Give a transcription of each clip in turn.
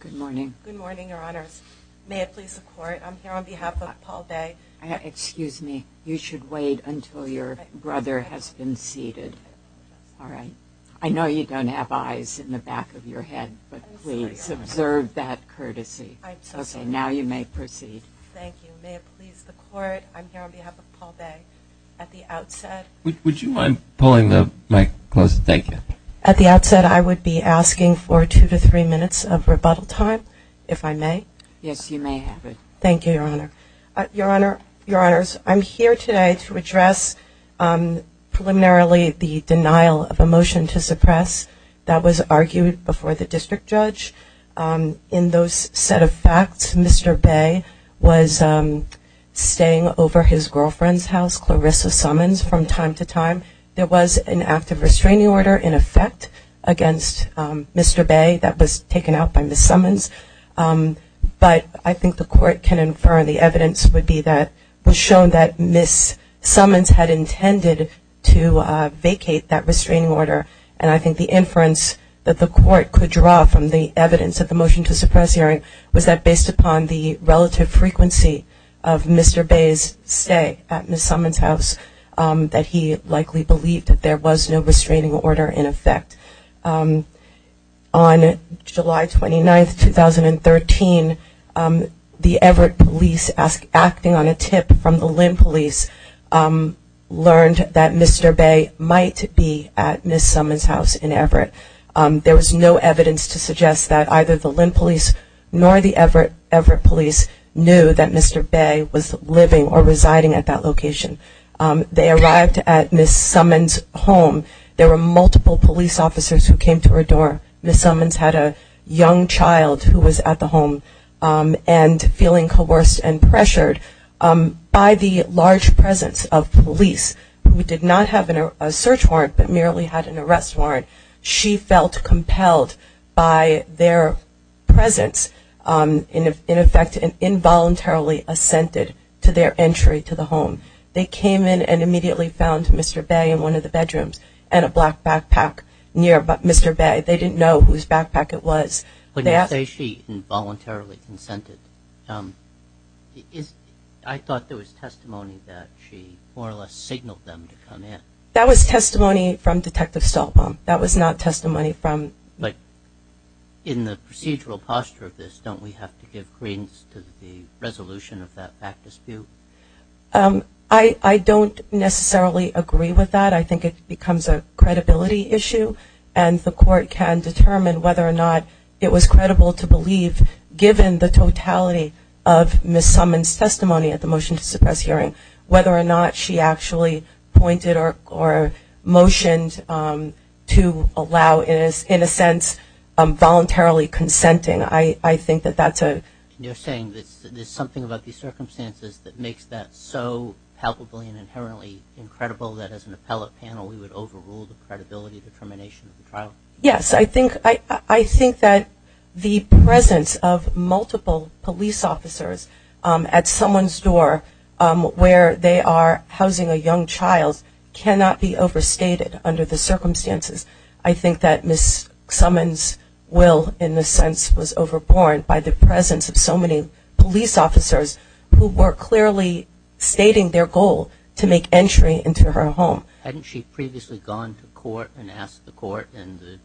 Good morning. Good morning, your honors. May it please the court, I'm here on behalf of Paul Bey. Excuse me, you should wait until your brother has been seated. Alright. I know you don't have eyes in the back of your head, but please observe that courtesy. Okay, now you may proceed. Thank you. May it please the court, I'm here on behalf of Paul Bey. At the outset, would you mind pulling the mic closer? Thank you. At the outset, I would be asking for two to three minutes of rebuttal time, if I may. Yes, you may have it. Thank you, your honor. Your honor, your honors, I'm here today to address preliminarily the case that was argued before the district judge. In those set of facts, Mr. Bey was staying over his girlfriend's house, Clarissa Summons, from time to time. There was an active restraining order, in effect, against Mr. Bey that was taken out by Ms. Summons. But I think the court can infer the evidence would be that it was shown that Ms. Summons had that the court could draw from the evidence of the motion to suppress hearing was that based upon the relative frequency of Mr. Bey's stay at Ms. Summons' house, that he likely believed that there was no restraining order in effect. On July 29th, 2013, the Everett Police, acting on a tip from the Lynn Police, learned that Mr. Bey might be at Ms. Summons' house in Everett. There was no evidence to suggest that either the Lynn Police nor the Everett Police knew that Mr. Bey was living or residing at that location. They arrived at Ms. Summons' home. There were multiple police officers who came to her door. Ms. Summons had a young child who was at the home and feeling coerced and pressured by the large warrant. She felt compelled by their presence, in effect, involuntarily assented to their entry to the home. They came in and immediately found Mr. Bey in one of the bedrooms and a black backpack near Mr. Bey. They didn't know whose backpack it was. When you say she involuntarily consented, I thought there was testimony that she more or less signaled them to come in. That was testimony from Detective Stoltbaum. That was not testimony from... But in the procedural posture of this, don't we have to give credence to the resolution of that fact dispute? I don't necessarily agree with that. I think it becomes a credibility issue and the court can determine whether or not it was credible to believe, given the totality of Ms. Summons' testimony at the motion to suppress hearing, whether or not she actually pointed or motioned to allow, in a sense, voluntarily consenting. I think that that's a... You're saying there's something about these circumstances that makes that so palpably and inherently incredible that as an appellate panel we would overrule the credibility determination of the trial? Yes. I think that the presence of multiple police officers at someone's door where they are housing a young child cannot be overstated under the circumstances. I think that Ms. Summons' will, in a sense, was overborne by the presence of so many police officers who were clearly stating their goal to make entry into her home. Hadn't she previously gone to court and asked the court and the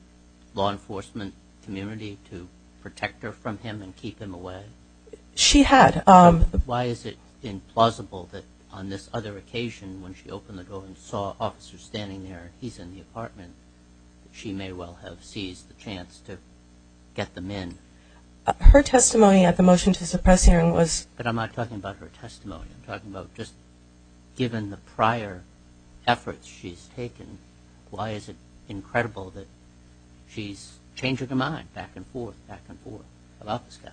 law enforcement community to protect her from him and keep him away? She had. Why is it implausible that on this other occasion when she opened the door and saw officers standing there, he's in the apartment, that she may well have seized the chance to get them in? Her testimony at the motion to suppress hearing was... But I'm not talking about her testimony. I'm talking about just given the prior efforts she's taken, why is it incredible that she's changing her mind back and forth, back and forth about this guy?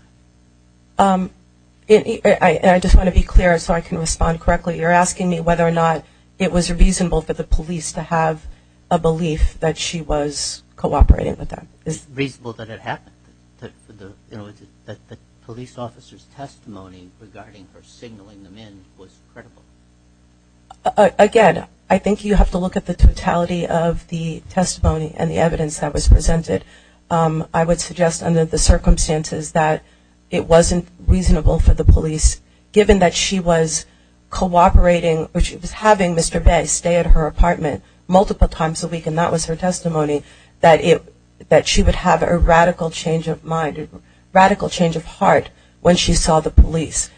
I just want to be clear so I can respond correctly. You're asking me whether or not it was reasonable for the police to have a belief that she was cooperating with them. It's reasonable that it happened, that the police officer's testimony regarding her signaling them in was credible. Again, I think you have to look at the totality of the testimony and the evidence that was presented. I would suggest under the circumstances that it wasn't reasonable for the police, given that she was cooperating, or she was having Mr. Bay stay at her apartment multiple times a week and that was her testimony, that she would have a radical change of mind, radical change of heart when she saw the police.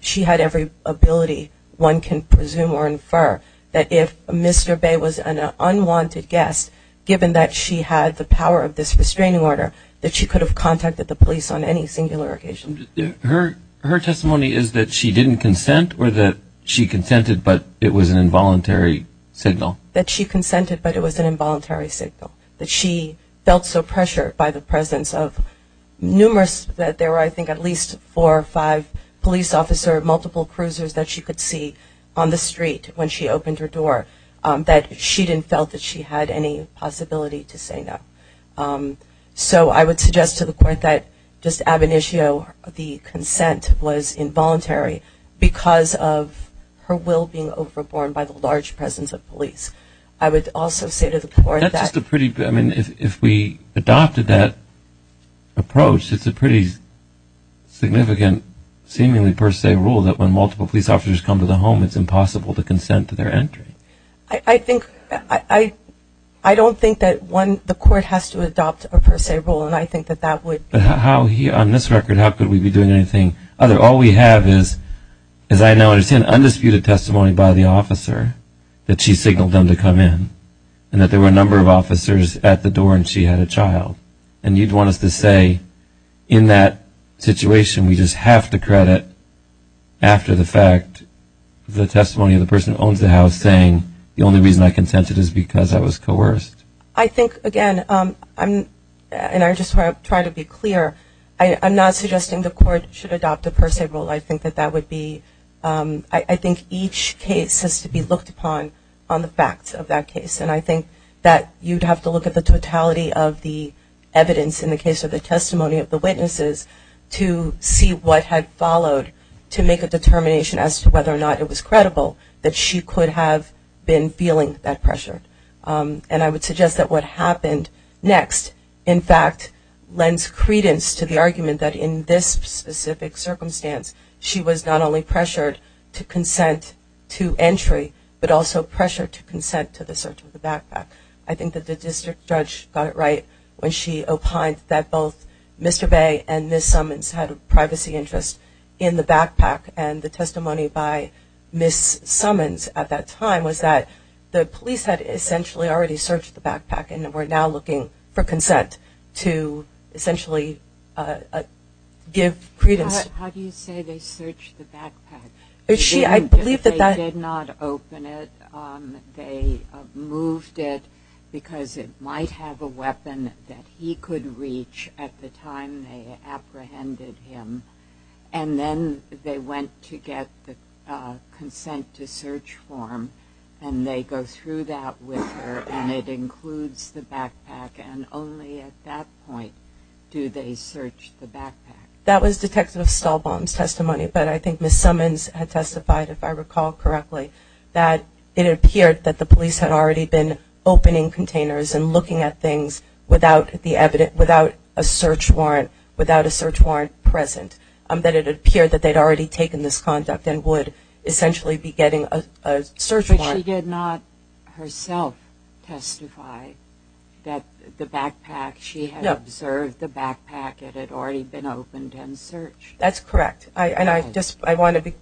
She had every ability one can presume or infer that if Mr. Bay was an unwanted guest, given that she had the power of this restraining order, that she could have contacted the police on any singular occasion. Her testimony is that she didn't consent or that she consented but it was an involuntary signal? That she consented but it was an involuntary signal. That she felt so pressured by the presence of numerous, that there were I think at least four or five police officers, multiple cruisers that she could see on the street when she opened her door, that she didn't feel that she had any possibility to say no. So I would suggest to the court that just ab initio, the consent was involuntary because of her will being overborne by the large presence of police. I would also say to the court that That's just a pretty, I mean if we adopted that approach it's a pretty significant seemingly per se rule that when multiple police officers come to the home it's impossible to consent to their entry. I think, I don't think that one, the court has to adopt a per se rule and I think that that would But how, on this record, how could we be doing anything other? All we have is, as I now understand, undisputed testimony by the officer that she signaled them to come in and that there were a number of officers at the door and she had a child. And you'd want us to say in that situation we just have to credit after the fact the testimony of the person who owns the house saying the only reason I consented is because I was coerced? I think, again, and I just want to try to be clear, I'm not suggesting the court should adopt a per se rule. I think that that would be, I think each case has to be looked upon on the facts of that case and I think that you'd have to look at the totality of the evidence in the case of the testimony of the witnesses to see what had followed to make a determination as to whether or not it was credible that she could have been feeling that pressure. And I would suggest that what happened next, in fact, lends credence to the argument that in this specific circumstance she was not only pressured to consent to entry, but also pressured to consent to the search of the backpack. I think that the district judge got it right when she opined that both Mr. Bay and Ms. Summons had a privacy interest in the backpack and the testimony by Ms. Summons at that time was that the police had essentially already searched the backpack and were now looking for consent to essentially give credence. How do you say they searched the backpack? I believe that that They did not open it. They moved it because it might have a weapon that he could reach at the time they apprehended him. And then they went to get the consent to search form and they go through that with her and it includes the backpack. And only at that point do they search the backpack. That was Detective Stahlbaum's testimony, but I think Ms. Summons had testified, if I recall correctly, that it appeared that the police had already been opening containers and looking at things without the evidence, without a search warrant, without a search warrant present. That it appeared that they had already taken this conduct and would essentially be getting a search warrant. But she did not herself testify that the backpack, she had observed the backpack, it had already been opened and searched. That's correct. And I just, I want to,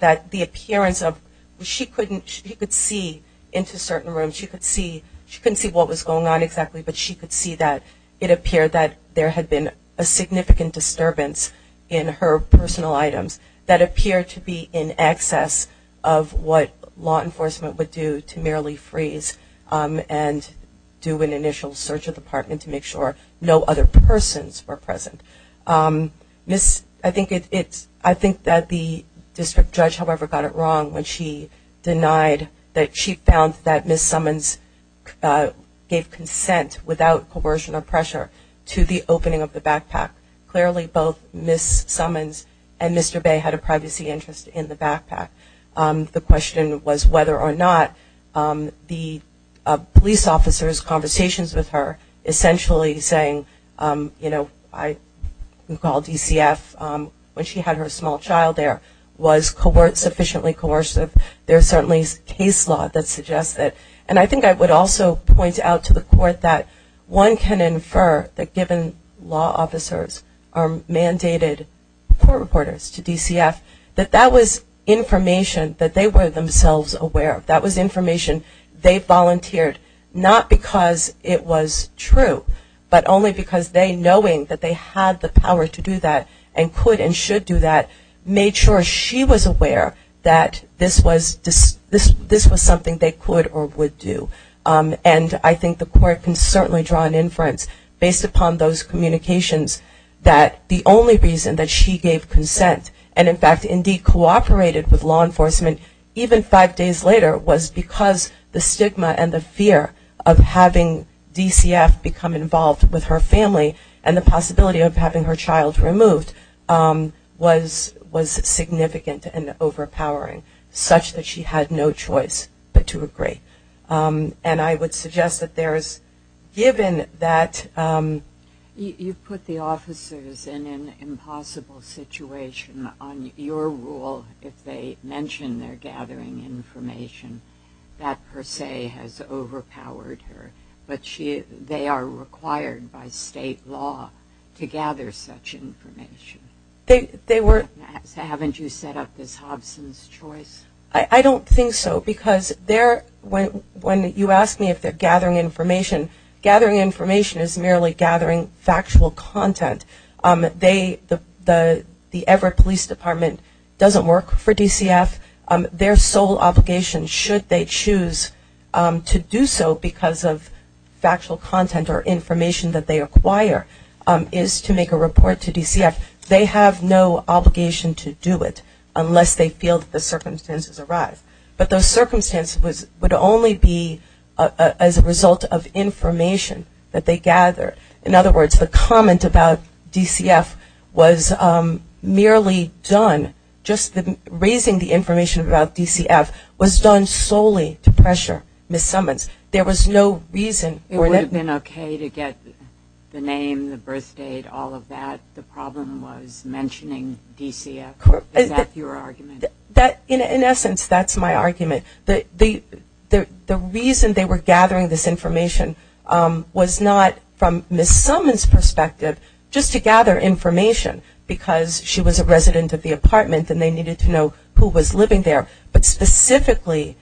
that the appearance of, she couldn't, she could see into certain rooms, she could see, she couldn't see what was going on exactly, but she could see that it appeared that there had been a significant disturbance in her of what law enforcement would do to merely freeze and do an initial search of the apartment to make sure no other persons were present. Ms., I think it's, I think that the district judge, however, got it wrong when she denied that she found that Ms. Summons gave consent without coercion or pressure to the opening of the backpack. Clearly both Ms. Summons and Mr. Bay had a privacy interest in the question was whether or not the police officers' conversations with her essentially saying, you know, I recall DCF, when she had her small child there, was sufficiently coercive. There's certainly case law that suggests that. And I think I would also point out to the court that one can infer that given law officers are mandated court reporters to DCF, that was information that they were themselves aware of. That was information they volunteered not because it was true, but only because they, knowing that they had the power to do that and could and should do that, made sure she was aware that this was something they could or would do. And I think the court can certainly draw an inference based upon those who operated with law enforcement, even five days later, was because the stigma and the fear of having DCF become involved with her family and the possibility of having her child removed was significant and overpowering, such that she had no choice but to agree. And I would suggest that there's, given that... You've put the officers in an impossible situation. On your rule, if they mention they're gathering information, that per se has overpowered her. But they are required by state law to gather such information. They were... Haven't you set up this Hobson's choice? I don't think so, because when you ask me if they're gathering information, gathering information is merely gathering factual content. The Everett Police Department doesn't work for DCF. Their sole obligation, should they choose to do so because of factual content or information that they acquire, is to make a report to DCF. They have no obligation to do it unless they feel that the circumstances arise. But those circumstances would only be as a result of information that they gather. In other words, the comment about DCF was merely done, just raising the information about DCF, was done solely to pressure Ms. Summons. There was no reason for... It would have been okay to get the name, the birth date, all of that. The problem was mentioning DCF. Is that your argument? In essence, that's my argument. The reason they were gathering this information was not from Ms. Summons' perspective, just to gather information, because she was a resident of the apartment and they needed to know who was living there. But specifically,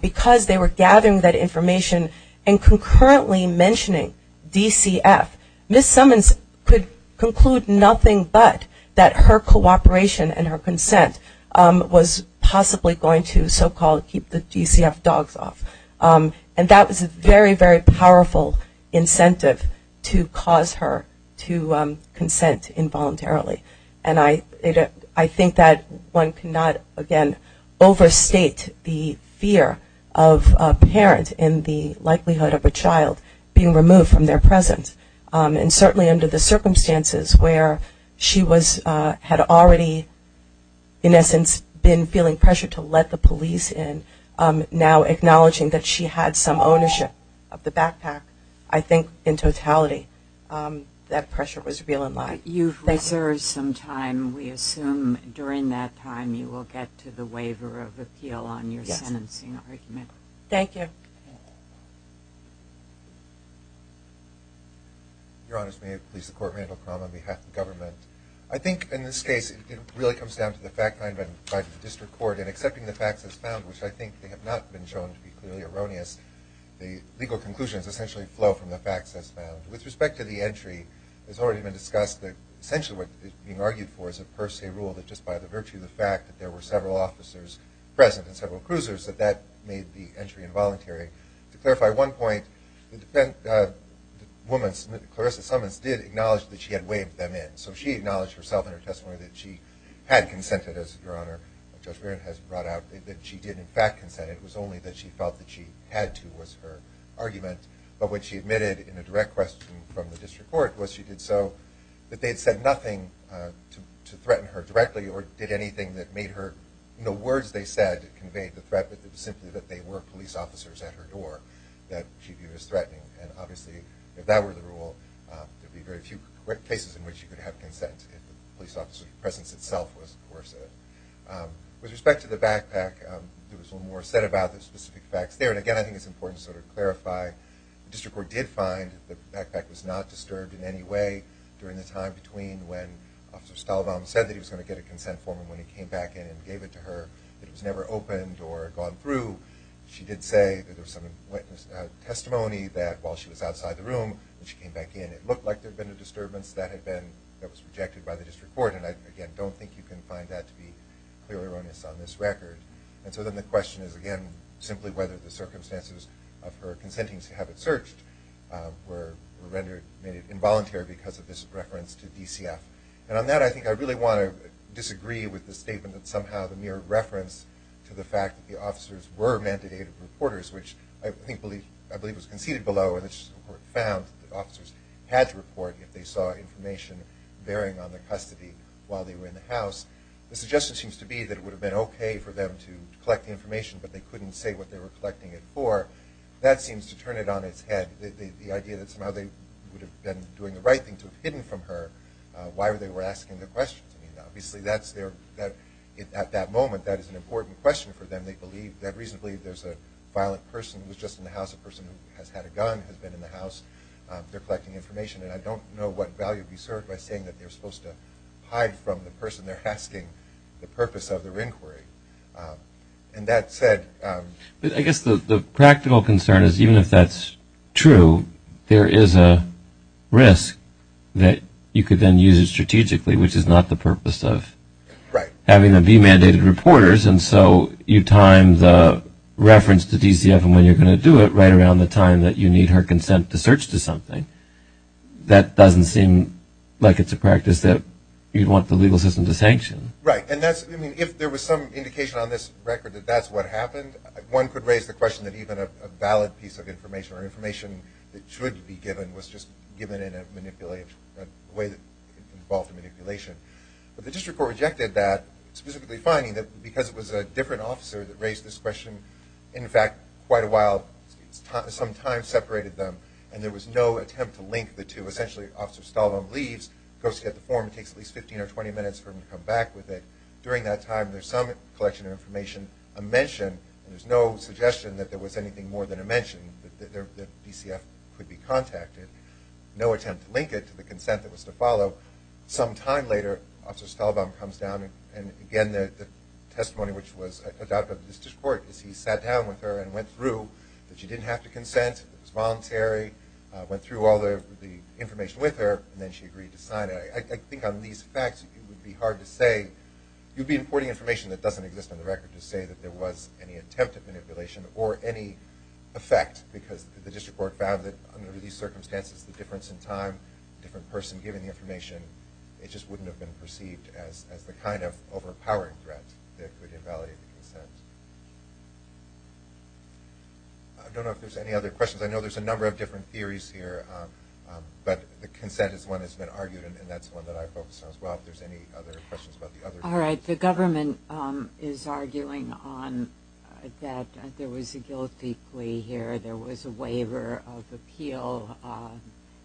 because they were gathering that information and concurrently mentioning DCF, Ms. Summons could conclude nothing but that her cooperation and her consent was possibly going to so-called keep the DCF dogs off. And that was a very, very powerful incentive to cause her to consent involuntarily. And I think that one cannot, again, overstate the fear of a parent in the likelihood of a child being removed from their presence. And certainly under the circumstances where she had already, in essence, been feeling pressure to let the police in, now acknowledging that she had some ownership of the backpack, I think, in totality, that pressure was real and live. You've reserved some time. We assume during that time you will get to the waiver of appeal on your sentencing argument. Thank you. Your Honors, may it please the Court, Randall Cromwell on behalf of the Government. I think in this case it really comes down to the fact that I have been tried in the District Court in accepting the facts as found, which I think have not been shown to be clearly erroneous. The legal conclusions essentially flow from the facts as found. With respect to the entry, it has already been discussed that essentially what is being argued for is a per se rule that just by the virtue of the fact that there were several officers present and several officers were involuntary. To clarify one point, the woman, Clarissa Summons, did acknowledge that she had waived them in. So she acknowledged herself in her testimony that she had consented, as Your Honor, Judge Barrett has brought out, that she did in fact consent. It was only that she felt that she had to was her argument. But what she admitted in a direct question from the District Court was she did so that they had said nothing to threaten her directly or did anything that made her, no words they said conveyed the threat, but it was simply that they were police officers at her door that she viewed as threatening. And obviously if that were the rule, there would be very few cases in which you could have consent if the police officer's presence itself was coercive. With respect to the backpack, there was a little more said about the specific facts there. And again, I think it's important to sort of clarify the District Court did find that the backpack was not disturbed in any way during the time between when Officer Stalbaum said that he was going to get a consent form and when he came back in and gave it to her, it was never opened or gone through. She did say that there was some witness testimony that while she was outside the room and she came back in, it looked like there had been a disturbance that had been, that was projected by the District Court. And I, again, don't think you can find that to be clearly erroneous on this record. And so then the question is, again, simply whether the circumstances of her consenting to have it searched were rendered, made it involuntary because of this reference to DCF. And on that, I think I really want to disagree with the statement that somehow the mere reference to the fact that the officers were mandated reporters, which I believe was conceded below and the District Court found that officers had to report if they saw information bearing on their custody while they were in the house. The suggestion seems to be that it would have been okay for them to collect the information, but they couldn't say what they were collecting it for. That seems to turn it on its head, the idea that somehow they would have been doing the right thing to have hidden from her why they were asking the questions. I mean, obviously, that's their, at that moment, that is an important question for them. They believe that reasonably there's a violent person who was just in the house, a person who has had a gun, has been in the house. They're collecting information. And I don't know what value to be served by saying that they're supposed to hide from the person they're asking the purpose of their inquiry. And that said, I guess the practical concern is even if that's true, there is a risk that you could then use it strategically, which is not the purpose of having them be mandated reporters. And so you time the reference to DCF and when you're going to do it right around the time that you need her consent to search to something. That doesn't seem like it's a practice that you'd want the legal system to sanction. Right. And that's, I mean, if there was some indication on this record that that's what happened, one could raise the question that even a valid piece of information or information that should be given was just given in a way that involved manipulation. But the district court rejected that, specifically finding that because it was a different officer that raised this question, in fact, quite a while, some time separated them, and there was no attempt to link the two. Essentially, Officer Stahlbaum leaves, goes to get the form, takes at least 15 or 20 minutes for him to come back with it. During that time, there's some collection of information, a mention, and there's no suggestion that there was anything more than a mention, that the DCF could be contacted. No attempt to link it to the consent that was to follow. Some time later, Officer Stahlbaum comes down, and again, the testimony which was adopted by the district court is he sat down with her and went through, that she didn't have to consent, it was voluntary, went through all the information with her, and then she agreed to sign it. I think on these facts, it would be hard to say. You'd be importing information that doesn't exist on the record to say that there was any attempt at manipulation or any effect because the district court found that under these circumstances, the difference in time, different person giving the information, it just wouldn't have been perceived as the kind of overpowering threat that could invalidate the consent. I don't know if there's any other questions. I know there's a number of different theories here, but the consent is one that's been argued, and that's one that I focus on as well, if The government is arguing that there was a guilty plea here. There was a waiver of appeal.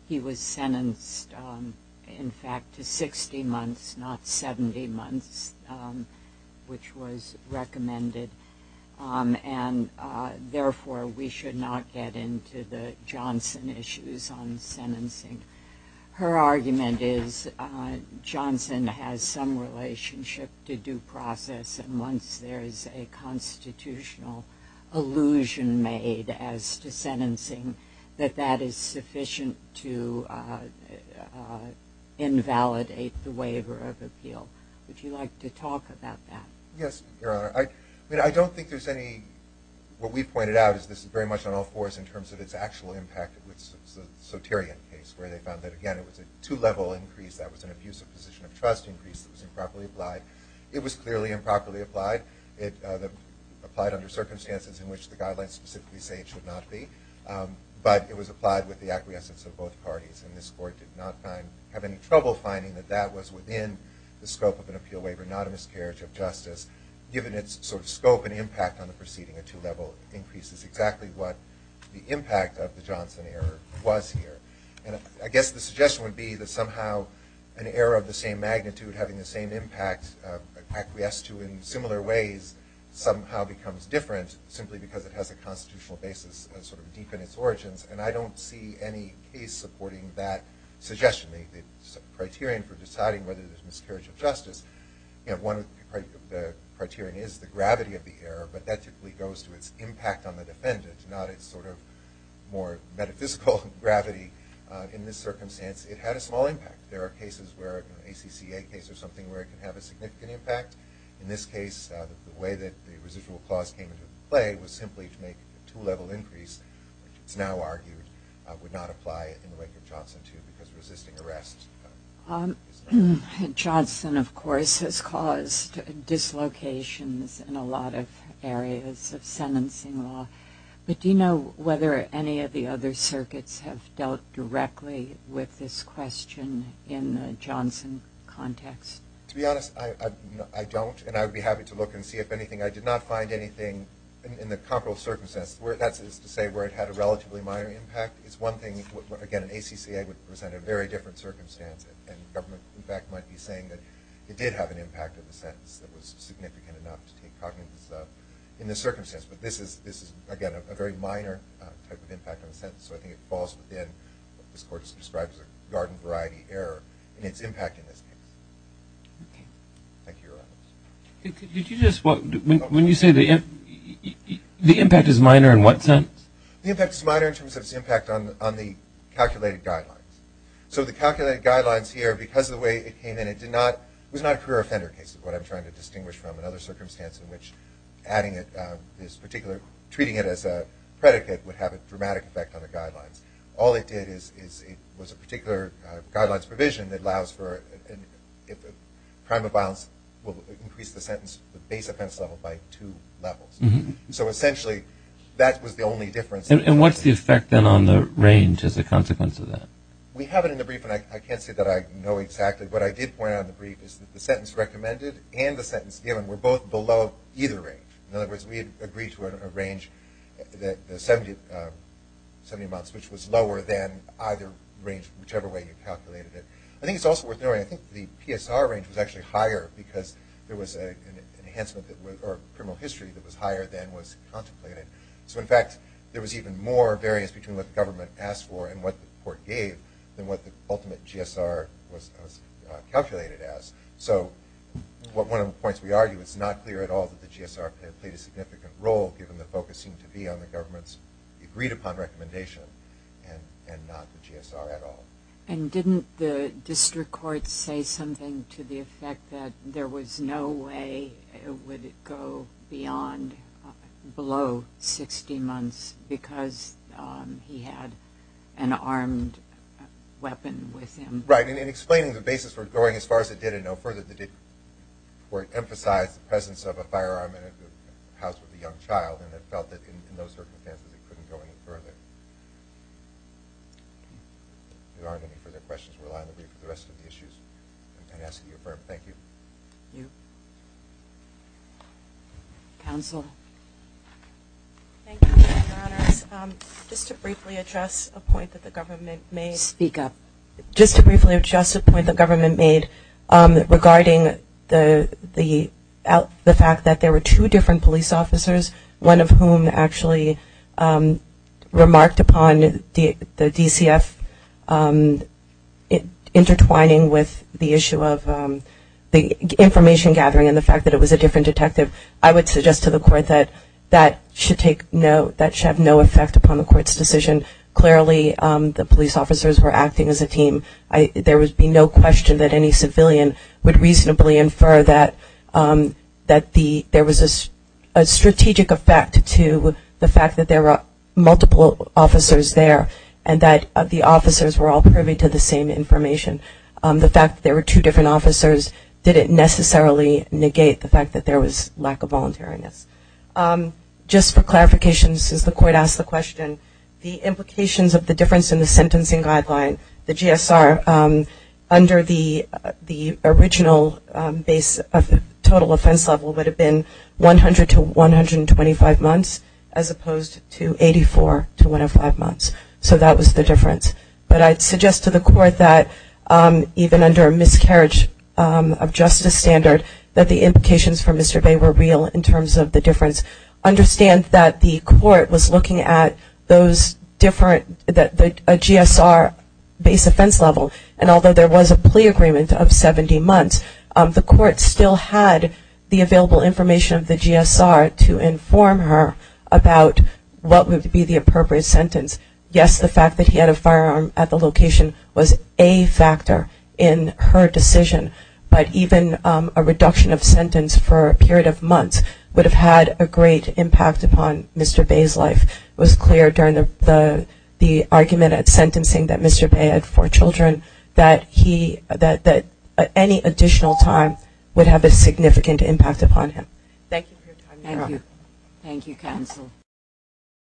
He was sentenced, in fact, to 60 months, not 70 months, which was recommended, and therefore we should not get into the Johnson issues on sentencing. Her argument is Johnson has some relationship to due process, and once there is a constitutional allusion made as to sentencing, that that is sufficient to invalidate the waiver of appeal. Would you like to talk about that? Yes, Your Honor. I don't think there's any, what we pointed out is this is very much on all fours in terms of its actual impact with the Soterian case, where they found that again, it was a two-level increase. That was an abuse of position of trust increase that was improperly applied. It was clearly improperly applied. It applied under circumstances in which the guidelines specifically say it should not be, but it was applied with the acquiescence of both parties, and this Court did not find, have any trouble finding that that was within the scope of an appeal waiver, not a miscarriage of justice, given its sort of scope and impact on the proceeding, a two-level increase is exactly what the impact of the Johnson error was here, and I guess the suggestion would be that somehow an error of the same magnitude having the same impact acquiesced to in similar ways somehow becomes different simply because it has a constitutional basis sort of deep in its origins, and I don't see any case supporting that suggestion. The criterion for deciding whether there's miscarriage of justice, you know, one of the criterion is the gravity of the error, but that typically goes to its impact on the defendant, not its sort of more metaphysical gravity. In this circumstance, it had a small impact. There are cases where, an ACCA case or something, where it can have a significant impact. In this case, the way that the residual clause came into play was simply to make a two-level increase, which it's now argued would not apply in the wake of Johnson II because resisting arrest is not... Johnson, of course, has caused dislocations in a lot of areas of sentencing law, but do you know whether any of the other circuits have dealt directly with this question in Johnson context? To be honest, I don't, and I would be happy to look and see if anything. I did not find anything in the comparable circumstances, that is to say, where it had a relatively minor impact. It's one thing, again, an ACCA would present a very different circumstance and the government, in fact, might be saying that it did have an impact on the sentence that was significant enough to take cognizance of in this circumstance, but this is, again, a very minor type of impact on the sentence, so I think it falls within what this court has described as a garden variety error in its impact in this case. Okay. Thank you, Your Honor. Did you just... When you say the impact is minor, in what sense? The impact is minor in terms of its impact on the calculated guidelines. So the calculated guidelines here, because of the way it came in, it did not... It was not a career offender case is what I'm trying to distinguish from. In other circumstances in which adding it, this particular... Treating it as a predicate would have a dramatic effect on the guidelines. All it did is it was a particular guidelines provision that allows for... If a crime of violence will increase the sentence, the base offense level by two levels. So essentially that was the only difference. And what's the effect then on the range as a consequence of that? We have it in the brief, and I can't say that I know exactly, but I did point out in the brief is that the sentence recommended and the sentence given were both below either range. In other words, we had agreed to a range, the 70 months, which was lower than either range, whichever way you calculated it. I think it's also worth noting, I think the PSR range was actually higher because there was an enhancement that was... Or criminal history that was higher than was contemplated. So in fact, there was even more variance between what the government asked for and what the court gave than what the ultimate GSR was calculated as. So one of the points we argue, it's not clear at all that the GSR played a significant role given the focus seemed to be on the government's agreed upon recommendation and not the GSR at all. And didn't the district court say something to the effect that there was no way it would go beyond, below 60 months because he had an armed weapon with him? Right. And in explaining the basis for going as far as it did and no further than it did, the court emphasized the presence of a firearm in a house with a young child, and it felt that in those circumstances it couldn't go any further. If there aren't any further questions, we'll rely on the brief for the rest of the issues and ask you to affirm. Thank you. Thank you. Council? Thank you, Your Honors. Just to briefly address a point that the government made... Speak up. Just to briefly address a point the government made regarding the fact that there were two different police officers, one of whom actually remarked upon the DCF intertwining with the information gathering and the fact that it was a different detective, I would suggest to the court that that should have no effect upon the court's decision. Clearly, the police officers were acting as a team. There would be no question that any civilian would reasonably infer that there was a strategic effect to the fact that there were multiple officers there and that the officers were all privy to the same information. The fact that there were two different officers didn't necessarily negate the fact that there was lack of voluntariness. Just for clarification, since the court asked the question, the implications of the difference in the sentencing guideline, the GSR, under the original base of the total offense level would have been 100 to 125 months as opposed to 84 to 105 months. So that was the difference. But I'd suggest to the court that even under a miscarriage of justice standard that the implications for Mr. Bay were real in terms of the difference. Understand that the court was looking at those different, a GSR base offense level, and although there was a plea agreement of 70 months, the court still had the available information of the GSR to inform her about what would be the appropriate sentence. Yes, the fact that he had a firearm at the location was a factor in her decision, but even a reduction of sentence for a period of months would have had a great impact upon Mr. Bay's life. It was clear during the argument at sentencing that Mr. Bay had four children that any additional time would have a significant impact upon him. Thank you for your time, Your Honor. Thank you, counsel.